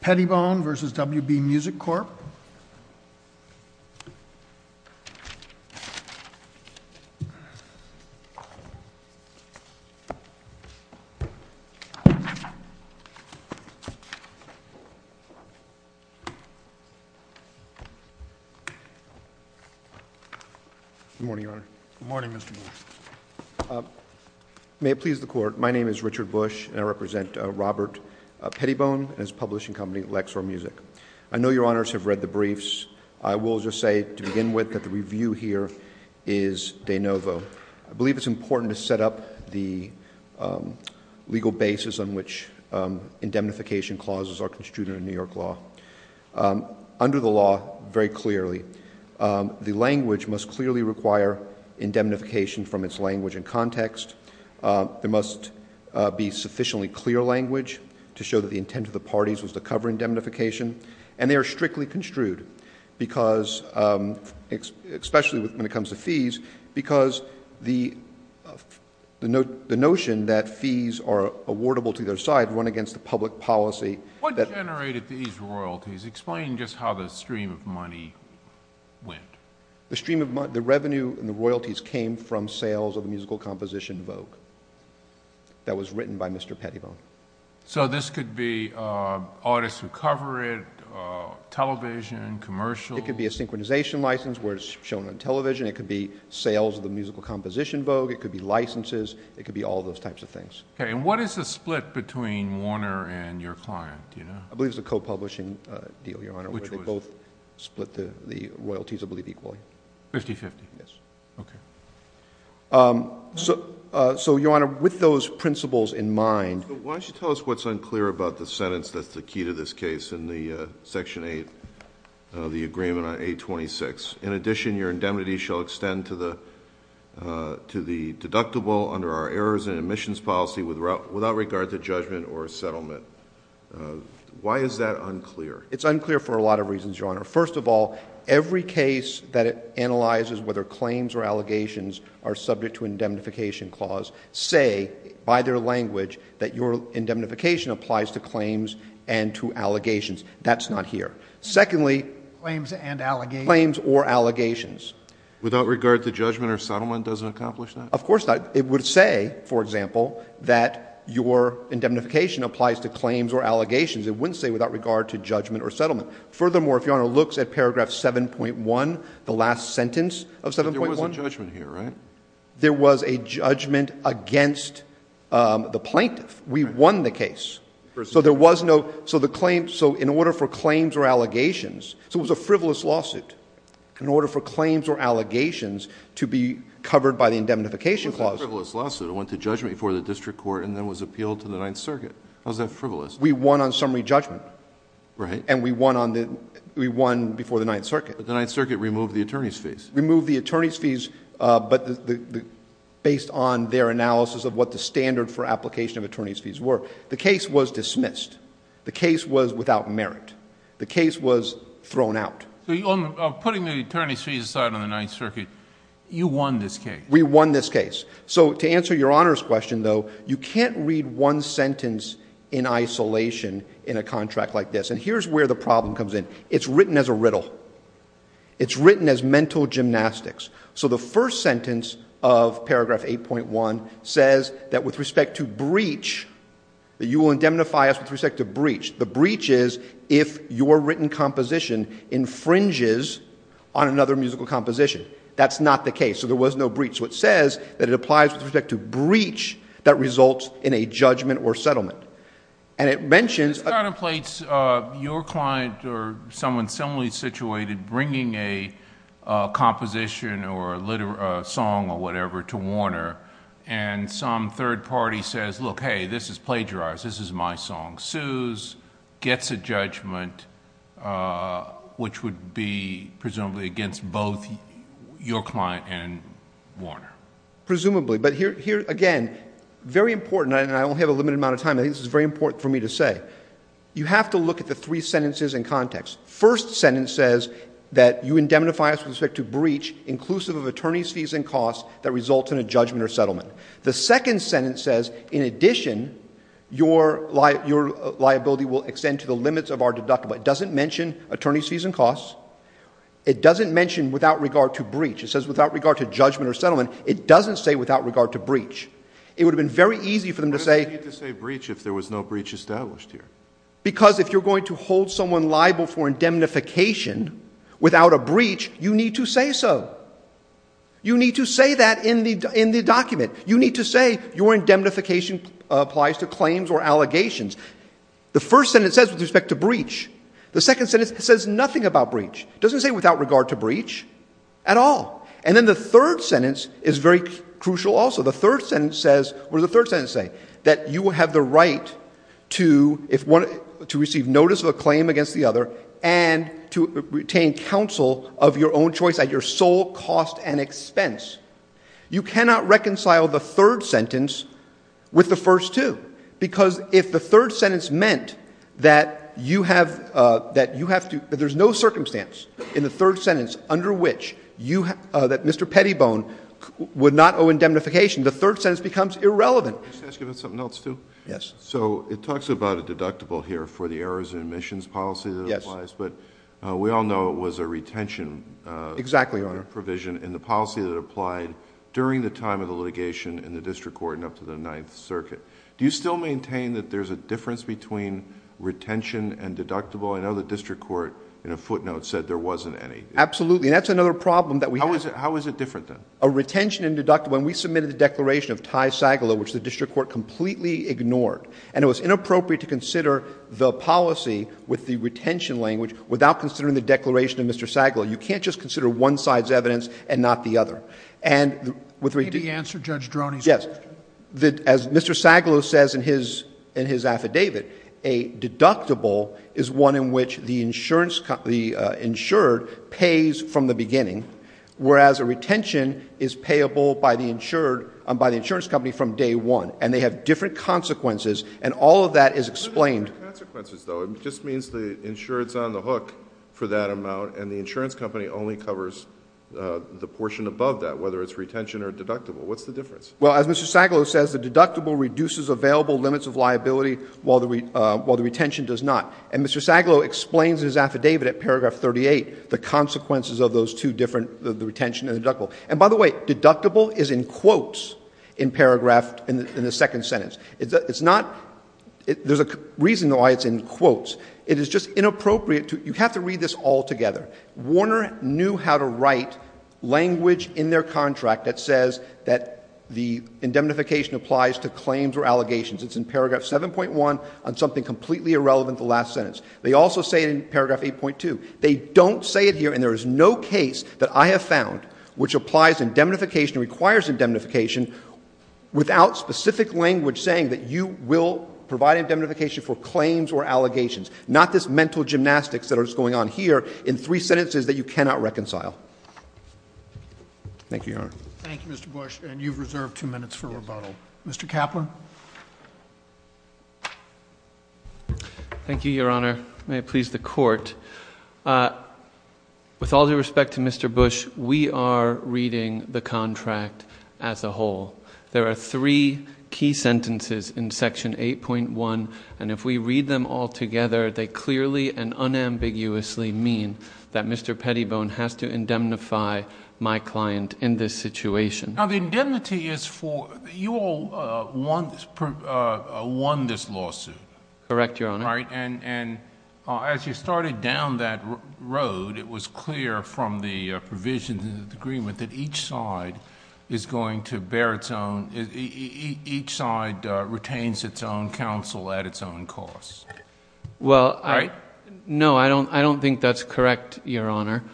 Pettibone v. WB Music Corp. Good morning, Your Honor. Good morning, Mr. Bush. May it please the Court. My name is Richard Bush, and I represent Robert Pettibone and his publishing company, Lexor Music. I know Your Honors have read the briefs. I will just say to begin with that the review here is de novo. I believe it's important to set up the legal basis on which indemnification clauses are construed in New York law. Under the law, very clearly, the language must clearly require indemnification from its language and context. There must be sufficiently clear language to show that the intent of the parties was to cover indemnification. And they are strictly construed, especially when it comes to fees, because the notion that fees are awardable to their side run against the public policy. What generated these royalties? Explain just how the stream of money went. The stream of money, the revenue and the royalties came from sales of the musical composition, Vogue, that was written by Mr. Pettibone. So this could be artists who cover it, television, commercials? It could be a synchronization license where it's shown on television. It could be sales of the musical composition, Vogue. It could be all those types of things. Okay. And what is the split between Warner and your client? I believe it's a co-publishing deal, Your Honor, where they both split the royalties, I believe, equally. Fifty-fifty. Yes. Okay. So, Your Honor, with those principles in mind... Why don't you tell us what's unclear about the sentence that's the key to this case in the Section 8 of the Agreement on A-26. In addition, your indemnity shall extend to the deductible under our errors and omissions policy without regard to judgment or settlement. Why is that unclear? It's unclear for a lot of reasons, Your Honor. First of all, every case that analyzes whether claims or allegations are subject to indemnification clause say, by their language, that your indemnification applies to claims and to allegations. That's not here. Secondly... Claims and allegations. Claims or allegations. Without regard to judgment or settlement, does it accomplish that? Of course not. It would say, for example, that your indemnification applies to claims or allegations. It wouldn't say without regard to judgment or settlement. Furthermore, if Your Honor looks at paragraph 7.1, the last sentence of 7.1... But there was a judgment here, right? There was a judgment against the plaintiff. We won the case. So there was no... In order for claims or allegations to be covered by the indemnification clause... It was a frivolous lawsuit. It went to judgment before the district court and then was appealed to the Ninth Circuit. How is that frivolous? We won on summary judgment. Right. And we won before the Ninth Circuit. But the Ninth Circuit removed the attorney's fees. Removed the attorney's fees based on their analysis of what the standard for application of attorney's fees were. The case was dismissed. The case was without merit. The case was thrown out. Putting the attorney's fees aside on the Ninth Circuit, you won this case. We won this case. So to answer Your Honor's question, though, you can't read one sentence in isolation in a contract like this. And here's where the problem comes in. It's written as a riddle. It's written as mental gymnastics. So the first sentence of paragraph 8.1 says that with respect to breach... You will indemnify us with respect to breach. The breach is if your written composition infringes on another musical composition. That's not the case. So there was no breach. So it says that it applies with respect to breach that results in a judgment or settlement. And it mentions... It contemplates your client or someone similarly situated bringing a composition or a song or whatever to Warner. And some third party says, look, hey, this is plagiarized. This is my song. Sues, gets a judgment, which would be presumably against both your client and Warner. Presumably. But here, again, very important, and I only have a limited amount of time. I think this is very important for me to say. You have to look at the three sentences in context. First sentence says that you indemnify us with respect to breach inclusive of attorney's fees and costs that result in a judgment or settlement. The second sentence says, in addition, your liability will extend to the limits of our deductible. It doesn't mention attorney's fees and costs. It doesn't mention without regard to breach. It says without regard to judgment or settlement. It doesn't say without regard to breach. It would have been very easy for them to say... Why would they need to say breach if there was no breach established here? Because if you're going to hold someone liable for indemnification without a breach, you need to say so. You need to say that in the document. You need to say your indemnification applies to claims or allegations. The first sentence says with respect to breach. The second sentence says nothing about breach. It doesn't say without regard to breach at all. And then the third sentence is very crucial also. The third sentence says... What does the third sentence say? That you have the right to receive notice of a claim against the other and to retain counsel of your own choice at your sole cost and expense. You cannot reconcile the third sentence with the first two. Because if the third sentence meant that you have to... There's no circumstance in the third sentence under which you... That Mr. Pettybone would not owe indemnification. The third sentence becomes irrelevant. Can I ask you about something else too? Yes. It talks about a deductible here for the errors and omissions policy that applies. Yes. We all know it was a retention... Exactly, Your Honor.... provision in the policy that applied during the time of the litigation in the district court and up to the Ninth Circuit. Do you still maintain that there's a difference between retention and deductible? I know the district court in a footnote said there wasn't any. Absolutely. That's another problem that we have. How is it different then? A retention and deductible... And we submitted the declaration of Ty Sagalow, which the district court completely ignored. And it was inappropriate to consider the policy with the retention language without considering the declaration of Mr. Sagalow. You can't just consider one side's evidence and not the other. And with regard to... May be answer Judge Droney's... Yes. As Mr. Sagalow says in his affidavit, a deductible is one in which the insured pays from the beginning. Whereas a retention is payable by the insured... by the insurance company from day one. And they have different consequences. And all of that is explained... What are the different consequences, though? It just means the insured's on the hook for that amount. And the insurance company only covers the portion above that, whether it's retention or deductible. What's the difference? Well, as Mr. Sagalow says, the deductible reduces available limits of liability while the retention does not. And Mr. Sagalow explains in his affidavit at paragraph 38 the consequences of those two different... the retention and the deductible. And by the way, deductible is in quotes in paragraph... in the second sentence. It's not... there's a reason why it's in quotes. It is just inappropriate to... you have to read this all together. Warner knew how to write language in their contract that says that the indemnification applies to claims or allegations. It's in paragraph 7.1 on something completely irrelevant in the last sentence. They also say it in paragraph 8.2. They don't say it here. And there is no case that I have found which applies indemnification... requires indemnification... without specific language saying that you will provide indemnification for claims or allegations. Not this mental gymnastics that is going on here in three sentences that you cannot reconcile. Thank you, Your Honor. And you've reserved two minutes for rebuttal. Mr. Kaplan. Thank you, Your Honor. May it please the Court. With all due respect to Mr. Bush, we are reading the contract as a whole. There are three key sentences in section 8.1. And if we read them all together, they clearly and unambiguously mean that Mr. Pettibone has to indemnify my client in this situation. Now, the indemnity is for... you all won this lawsuit. Correct, Your Honor. And as you started down that road, it was clear from the provisions in the agreement that each side is going to bear its own... each side retains its own counsel at its own cost. Well, I... Right? No, I don't think that's correct, Your Honor.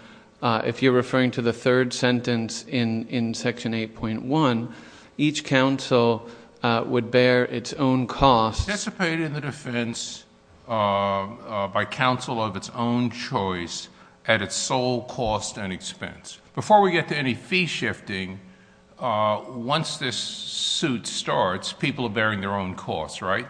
If you're referring to the third sentence in section 8.1, each counsel would bear its own cost... Anticipated in the defense by counsel of its own choice at its sole cost and expense. Before we get to any fee shifting, once this suit starts, people are bearing their own costs, right?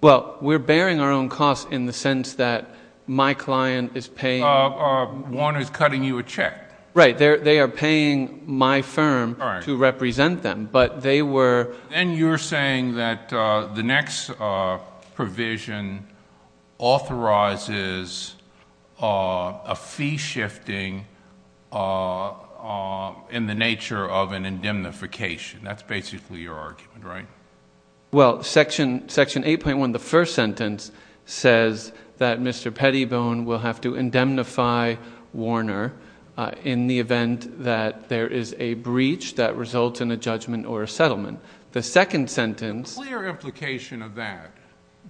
Well, we're bearing our own costs in the sense that my client is paying... Warner is cutting you a check. Right, they are paying my firm to represent them, but they were... And you're saying that the next provision authorizes a fee shifting in the nature of an indemnification. That's basically your argument, right? Well, section 8.1, the first sentence says that Mr. Pettibone will have to indemnify Warner in the event that there is a breach that results in a judgment or a settlement. The second sentence... The clear implication of that,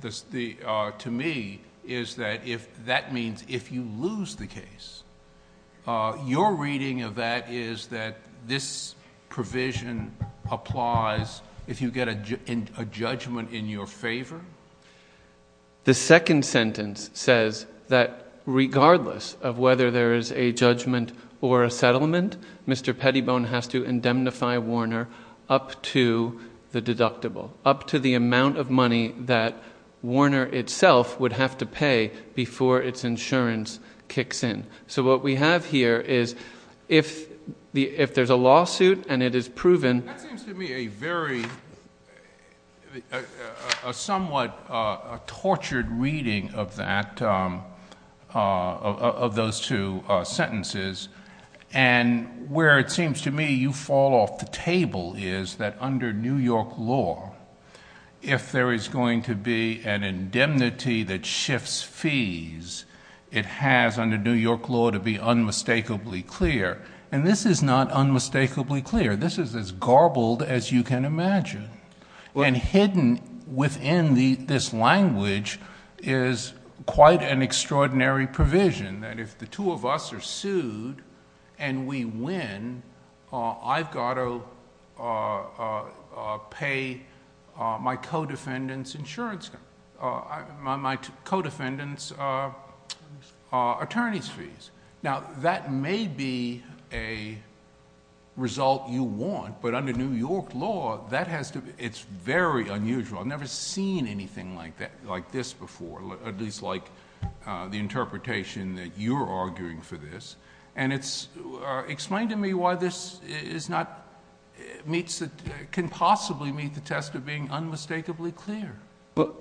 to me, is that if... that means if you lose the case. Your reading of that is that this provision applies if you get a judgment in your favor? The second sentence says that regardless of whether there is a judgment or a settlement, Mr. Pettibone has to indemnify Warner up to the deductible, up to the amount of money that Warner itself would have to pay before its insurance kicks in. So what we have here is if there's a lawsuit and it is proven... That seems to me a very... a somewhat tortured reading of that... of those two sentences. And where it seems to me you fall off the table is that under New York law, if there is going to be an indemnity that shifts fees, it has under New York law to be unmistakably clear. And this is not unmistakably clear. This is as garbled as you can imagine. And hidden within this language is quite an extraordinary provision. That if the two of us are sued and we win, I've got to pay my co-defendant's insurance... my co-defendant's attorney's fees. Now, that may be a result you want, but under New York law, that has to... it's very unusual. I've never seen anything like this before, at least like the interpretation that you're arguing for this. And it's... explain to me why this is not... can possibly meet the test of being unmistakably clear.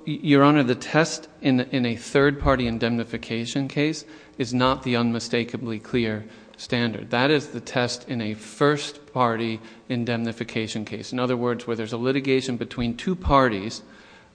Your Honor, the test in a third-party indemnification case is not the unmistakably clear standard. That is the test in a first-party indemnification case. In other words, where there's a litigation between two parties,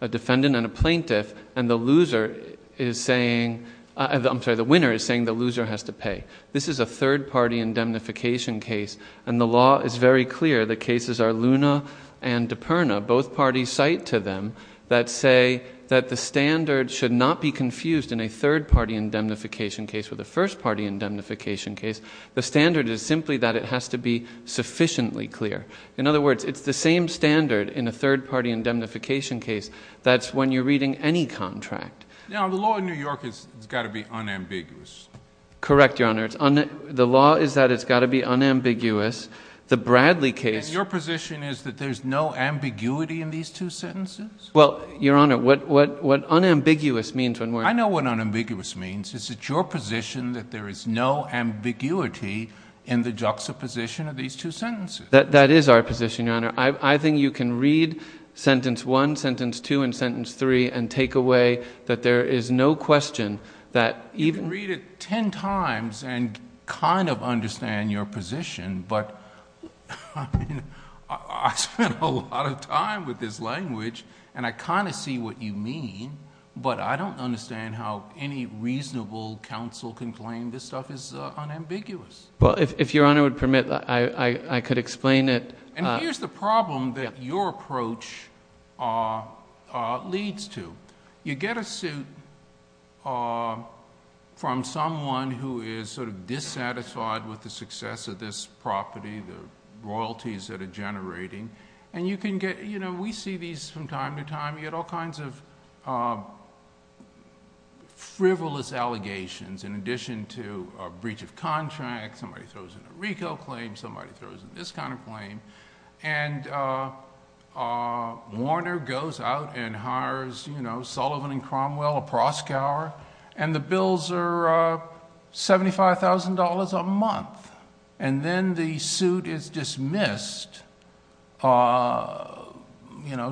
a defendant and a plaintiff... and the loser is saying... I'm sorry, the winner is saying the loser has to pay. This is a third-party indemnification case. And the law is very clear. The cases are Luna and DiPerna. Both parties cite to them that say that the standard should not be confused in a third-party indemnification case... with a first-party indemnification case. The standard is simply that it has to be sufficiently clear. In other words, it's the same standard in a third-party indemnification case. That's when you're reading any contract. Now, the law in New York has got to be unambiguous. Correct, Your Honor. The law is that it's got to be unambiguous. The Bradley case... And your position is that there's no ambiguity in these two sentences? Well, Your Honor, what unambiguous means when we're... I know what unambiguous means. It's at your position that there is no ambiguity in the juxtaposition of these two sentences. That is our position, Your Honor. I think you can read sentence one, sentence two, and sentence three... and take away that there is no question that even... You can read it ten times and kind of understand your position. But, I mean, I spent a lot of time with this language and I kind of see what you mean. But, I don't understand how any reasonable counsel can claim this stuff is unambiguous. Well, if Your Honor would permit, I could explain it. And here's the problem that your approach leads to. You get a suit from someone who is sort of dissatisfied with the success of this property, the royalties that it's generating, and you can get... You know, we see these from time to time. You get all kinds of frivolous allegations in addition to a breach of contract. Somebody throws in a RICO claim. Somebody throws in this kind of claim. And Warner goes out and hires, you know, Sullivan and Cromwell, a proscour. And the bills are $75,000 a month. And then the suit is dismissed, you know,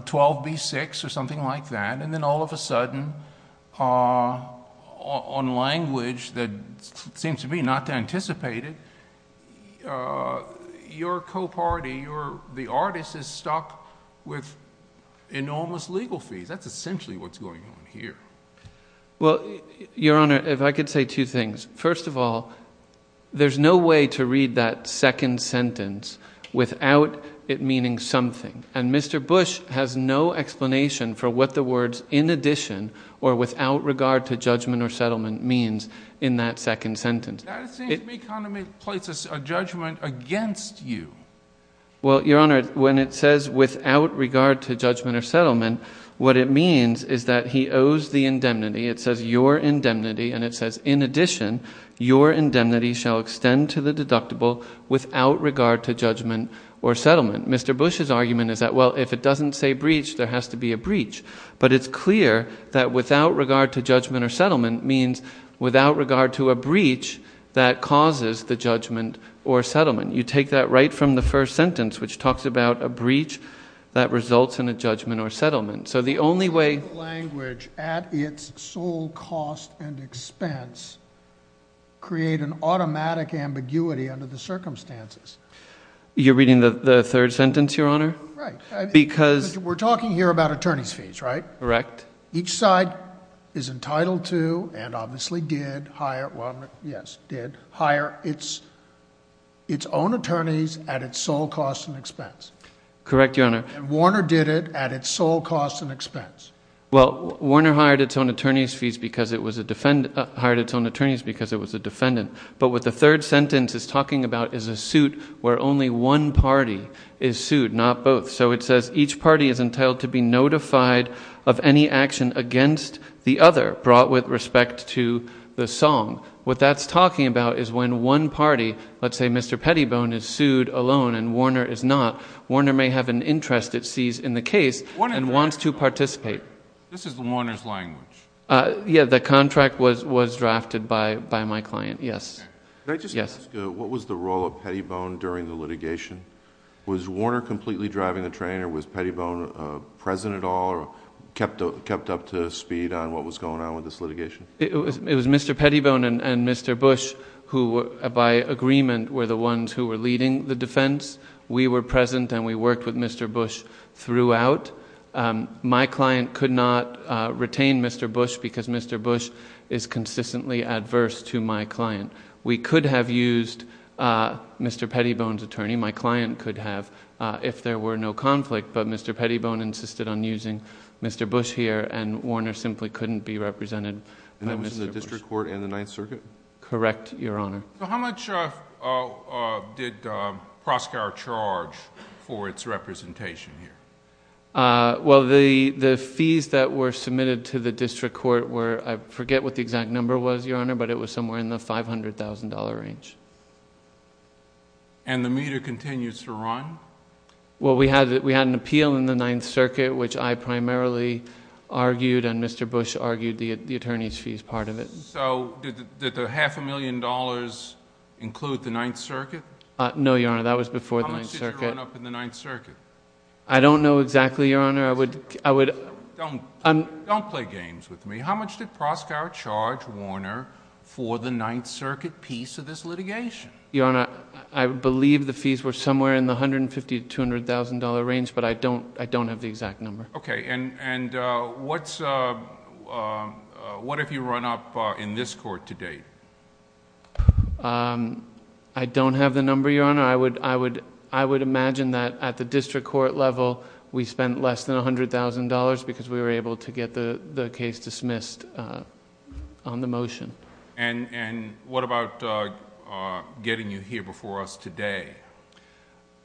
12B6 or something like that. And then all of a sudden, on language that seems to me not to anticipate it, your co-party, the artist is stuck with enormous legal fees. That's essentially what's going on here. Well, Your Honor, if I could say two things. First of all, there's no way to read that second sentence without it meaning something. And Mr. Bush has no explanation for what the words in addition or without regard to judgment or settlement means in that second sentence. That, it seems to me, kind of places a judgment against you. Well, Your Honor, when it says without regard to judgment or settlement, what it means is that he owes the indemnity. It says your indemnity, and it says, in addition, your indemnity shall extend to the deductible without regard to judgment or settlement. Mr. Bush's argument is that, well, if it doesn't say breach, there has to be a breach. But it's clear that without regard to judgment or settlement means without regard to a breach that causes the judgment or settlement. You take that right from the first sentence, which talks about a breach that results in a judgment or settlement. So the only way... Language at its sole cost and expense create an automatic ambiguity under the circumstances. You're reading the third sentence, Your Honor? Right. Because... We're talking here about attorney's fees, right? Correct. Each side is entitled to and obviously did hire its own attorneys at its sole cost and expense. Correct, Your Honor. And Warner did it at its sole cost and expense. Well, Warner hired its own attorney's fees because it was a defendant... hired its own attorneys because it was a defendant. But what the third sentence is talking about is a suit where only one party is sued, not both. So it says each party is entitled to be notified of any action against the other brought with respect to the song. What that's talking about is when one party, let's say Mr. Pettibone, is sued alone and Warner is not, Warner may have an interest it sees in the case and wants to participate. This is Warner's language. Yeah, the contract was drafted by my client, yes. Can I just ask what was the role of Pettibone during the litigation? Was Warner completely driving the train or was Pettibone present at all or kept up to speed on what was going on with this litigation? It was Mr. Pettibone and Mr. Bush who by agreement were the ones who were leading the defense. We were present and we worked with Mr. Bush throughout. My client could not retain Mr. Bush because Mr. Bush is consistently adverse to my client. We could have used Mr. Pettibone's attorney, my client could have, if there were no conflict, but Mr. Pettibone insisted on using Mr. Bush here and Warner simply couldn't be represented by Mr. Bush. And that was in the district court and the Ninth Circuit? Correct, Your Honor. How much did Proscow charge for its representation here? Well, the fees that were submitted to the district court were, I forget what the exact number was, Your Honor, but it was somewhere in the $500,000 range. And the meter continues to run? Well, we had an appeal in the Ninth Circuit which I primarily argued and Mr. Bush argued the attorney's fees part of it. So did the half a million dollars include the Ninth Circuit? No, Your Honor, that was before the Ninth Circuit. How much did you run up in the Ninth Circuit? I don't know exactly, Your Honor. Don't play games with me. How much did Proscow charge Warner for the Ninth Circuit piece of this litigation? Your Honor, I believe the fees were somewhere in the $150,000 to $200,000 range, but I don't have the exact number. Okay, and what have you run up in this court to date? I don't have the number, Your Honor. I would imagine that at the district court level we spent less than $100,000 because we were able to get the case dismissed on the motion. And what about getting you here before us today?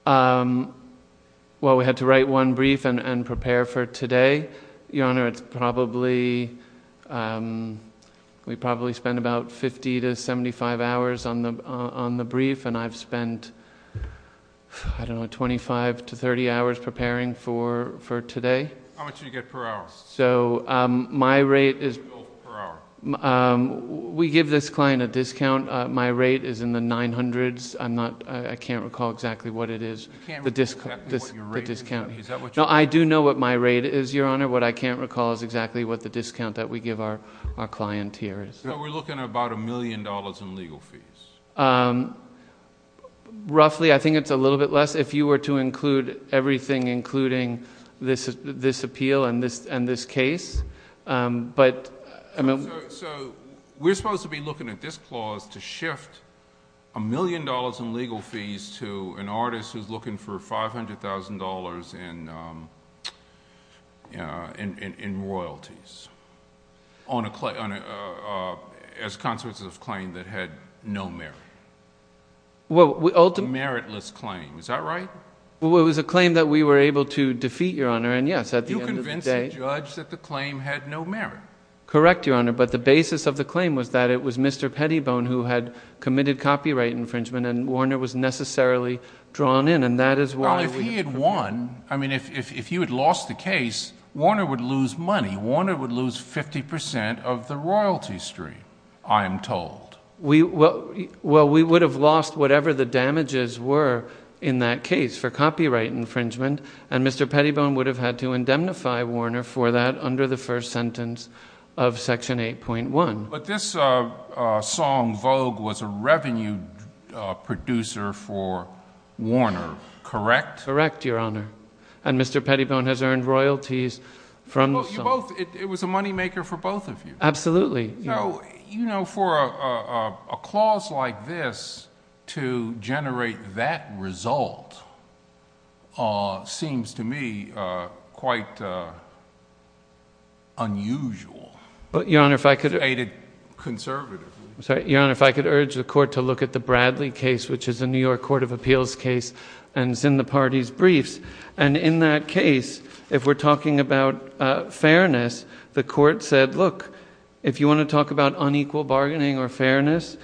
Well, we had to write one brief and prepare for today. Your Honor, we probably spent about 50 to 75 hours on the brief, and I've spent, I don't know, 25 to 30 hours preparing for today. How much did you get per hour? We give this client a discount. My rate is in the 900s. I can't recall exactly what it is. You can't recall exactly what your rate is? No, I do know what my rate is, Your Honor. What I can't recall is exactly what the discount that we give our client here is. So we're looking at about a million dollars in legal fees? Roughly. I think it's a little bit less if you were to include everything including this appeal and this case. So we're supposed to be looking at this clause to shift a million dollars in legal fees to an artist who's looking for $500,000 in royalties as consequences of a claim that had no merit? A meritless claim, is that right? Well, it was a claim that we were able to defeat, Your Honor, and yes, at the end of the day— Correct, Your Honor, but the basis of the claim was that it was Mr. Pettibone who had committed copyright infringement and Warner was necessarily drawn in, and that is why— Well, if he had won, I mean, if you had lost the case, Warner would lose money. Warner would lose 50 percent of the royalty stream, I am told. Well, we would have lost whatever the damages were in that case for copyright infringement, and Mr. Pettibone would have had to indemnify Warner for that under the first sentence of Section 8.1. But this song, Vogue, was a revenue producer for Warner, correct? Correct, Your Honor, and Mr. Pettibone has earned royalties from the song. It was a moneymaker for both of you. Absolutely. Now, you know, for a clause like this to generate that result seems to me quite unusual. But, Your Honor, if I could— It's stated conservatively. I'm sorry. Your Honor, if I could urge the Court to look at the Bradley case, which is a New York Court of Appeals case, and it's in the party's briefs, and in that case, if we're talking about fairness, the Court said, Look, if you want to talk about unequal bargaining or fairness,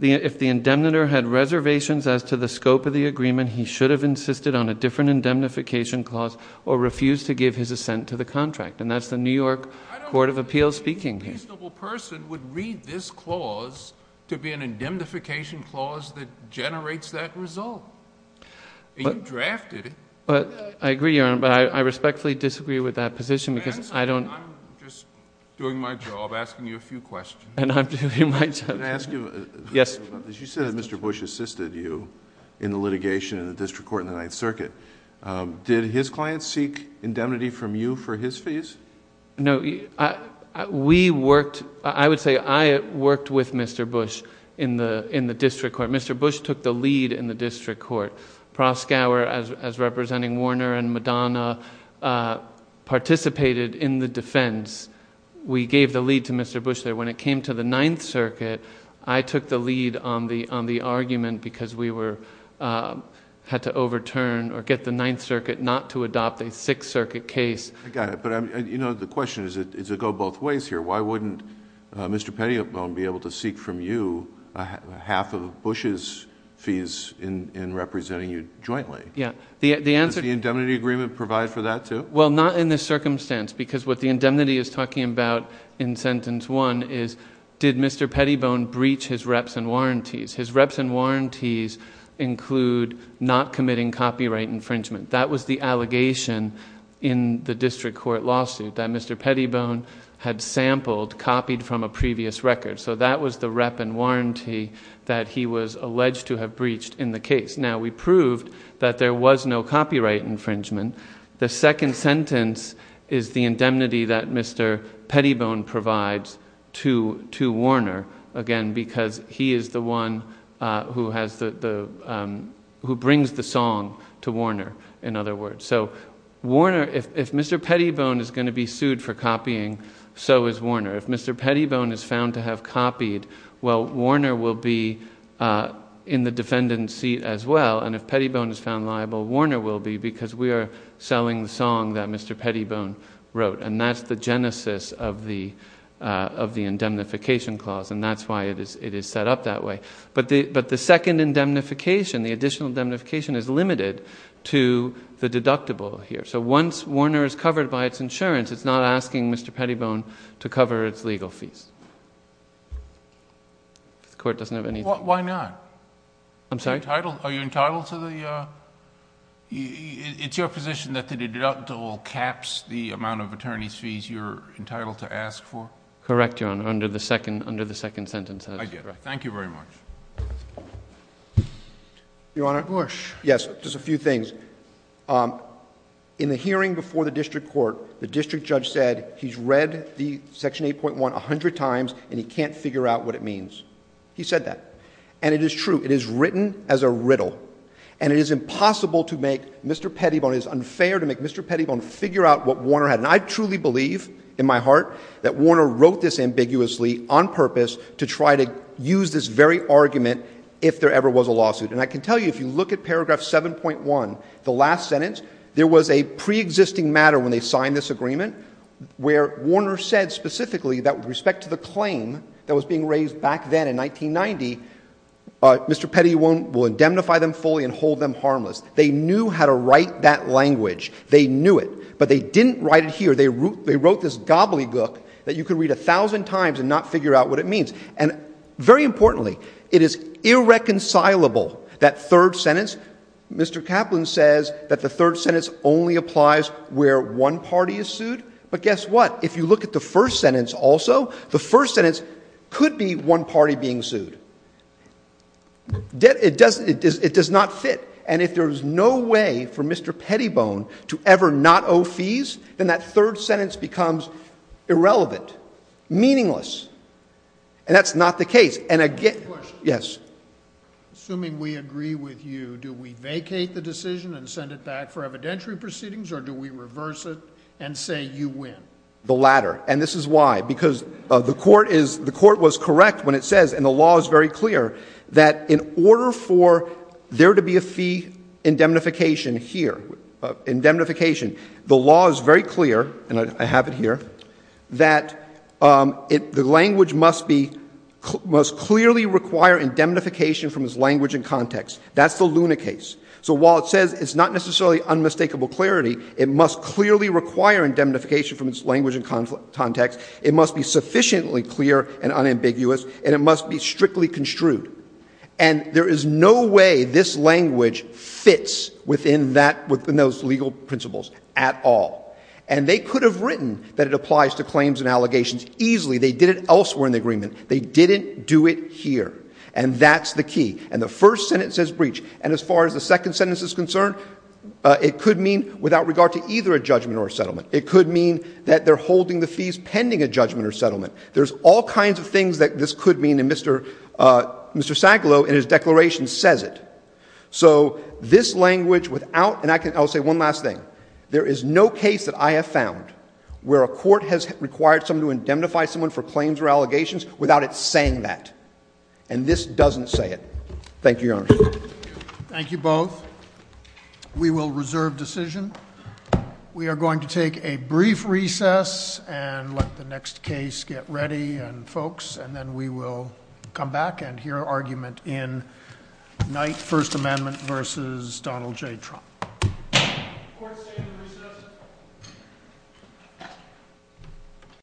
if the indemnitor had reservations as to the scope of the agreement, he should have insisted on a different indemnification clause or refused to give his assent to the contract. And that's the New York Court of Appeals speaking case. I don't think any reasonable person would read this clause to be an indemnification clause that generates that result. You drafted it. I agree, Your Honor, but I respectfully disagree with that position because I don't— I'm doing my job asking you a few questions. And I'm doing my job— Can I ask you— Yes. As you said, Mr. Bush assisted you in the litigation in the district court in the Ninth Circuit. Did his clients seek indemnity from you for his fees? No. We worked... I would say I worked with Mr. Bush in the district court. Mr. Bush took the lead in the district court. Proskauer, as representing Warner and Madonna, participated in the defense. We gave the lead to Mr. Bush there. When it came to the Ninth Circuit, I took the lead on the argument because we had to overturn or get the Ninth Circuit not to adopt a Sixth Circuit case. I got it. The question is, does it go both ways here? Why wouldn't Mr. Pettibone be able to seek from you half of Bush's fees in representing you jointly? Does the indemnity agreement provide for that too? Well, not in this circumstance because what the indemnity is talking about in Sentence 1 is did Mr. Pettibone breach his reps and warranties. His reps and warranties include not committing copyright infringement. That was the allegation in the district court lawsuit that Mr. Pettibone had sampled, copied from a previous record. That was the rep and warranty that he was alleged to have breached in the case. Now, we proved that there was no copyright infringement. The second sentence is the indemnity that Mr. Pettibone provides to Warner, again, because he is the one who brings the song to Warner, in other words. If Mr. Pettibone is going to be sued for copying, so is Warner. If Mr. Pettibone is found to have copied, well, Warner will be in the defendant's seat as well. And if Pettibone is found liable, Warner will be because we are selling the song that Mr. Pettibone wrote. And that's the genesis of the indemnification clause, and that's why it is set up that way. But the second indemnification, the additional indemnification, is limited to the deductible here. So once Warner is covered by its insurance, it's not asking Mr. Pettibone to cover its legal fees. If the court doesn't have anything. Why not? I'm sorry? Are you entitled to the... it's your position that the deductible caps the amount of attorney's fees you're entitled to ask for? Correct, Your Honor, under the second sentence. I get it. Thank you very much. Your Honor. Gorsh. Yes, just a few things. In the hearing before the district court, the district judge said he's read the Section 8.1 a hundred times and he can't figure out what it means. He said that. And it is true. It is written as a riddle. And it is impossible to make Mr. Pettibone, it is unfair to make Mr. Pettibone figure out what Warner had. And I truly believe in my heart that Warner wrote this ambiguously on purpose to try to use this very argument if there ever was a lawsuit. And I can tell you if you look at paragraph 7.1, the last sentence, there was a preexisting matter when they signed this agreement where Warner said specifically that with respect to the claim that was being raised back then in 1990, Mr. Pettibone will indemnify them fully and hold them harmless. They knew how to write that language. They knew it. But they didn't write it here. They wrote this gobbledygook that you could read a thousand times and not figure out what it means. And very importantly, it is irreconcilable that third sentence, Mr. Kaplan says that the third sentence only applies where one party is sued. But guess what? If you look at the first sentence also, the first sentence could be one party being sued. It does not fit. And if there is no way for Mr. Pettibone to ever not owe fees, then that third sentence becomes irrelevant, meaningless. And that's not the case. And again, yes? Assuming we agree with you, do we vacate the decision and send it back for evidentiary proceedings or do we reverse it and say you win? The latter. And this is why. Because the Court was correct when it says, and the law is very clear, that in order for there to be a fee indemnification here, indemnification, the law is very clear, and I have it here, that the language must clearly require indemnification from its language and context. That's the Luna case. So while it says it's not necessarily unmistakable clarity, it must clearly require indemnification from its language and context, it must be sufficiently clear and unambiguous, and it must be strictly construed. And there is no way this language fits within those legal principles at all. And they could have written that it applies to claims and allegations easily. They did it elsewhere in the agreement. They didn't do it here. And that's the key. And the first sentence says breach. And as far as the second sentence is concerned, it could mean without regard to either a judgment or a settlement. It could mean that they're holding the fees pending a judgment or settlement. There's all kinds of things that this could mean, and Mr. Sagalow in his declaration says it. So this language without, and I'll say one last thing. There is no case that I have found where a court has required someone to indemnify someone for claims or allegations without it saying that. And this doesn't say it. Thank you, Your Honor. Thank you both. We will reserve decision. We are going to take a brief recess and let the next case get ready, and folks, and then we will come back and hear argument in night, First Amendment versus Donald J. Trump. Court is in recess.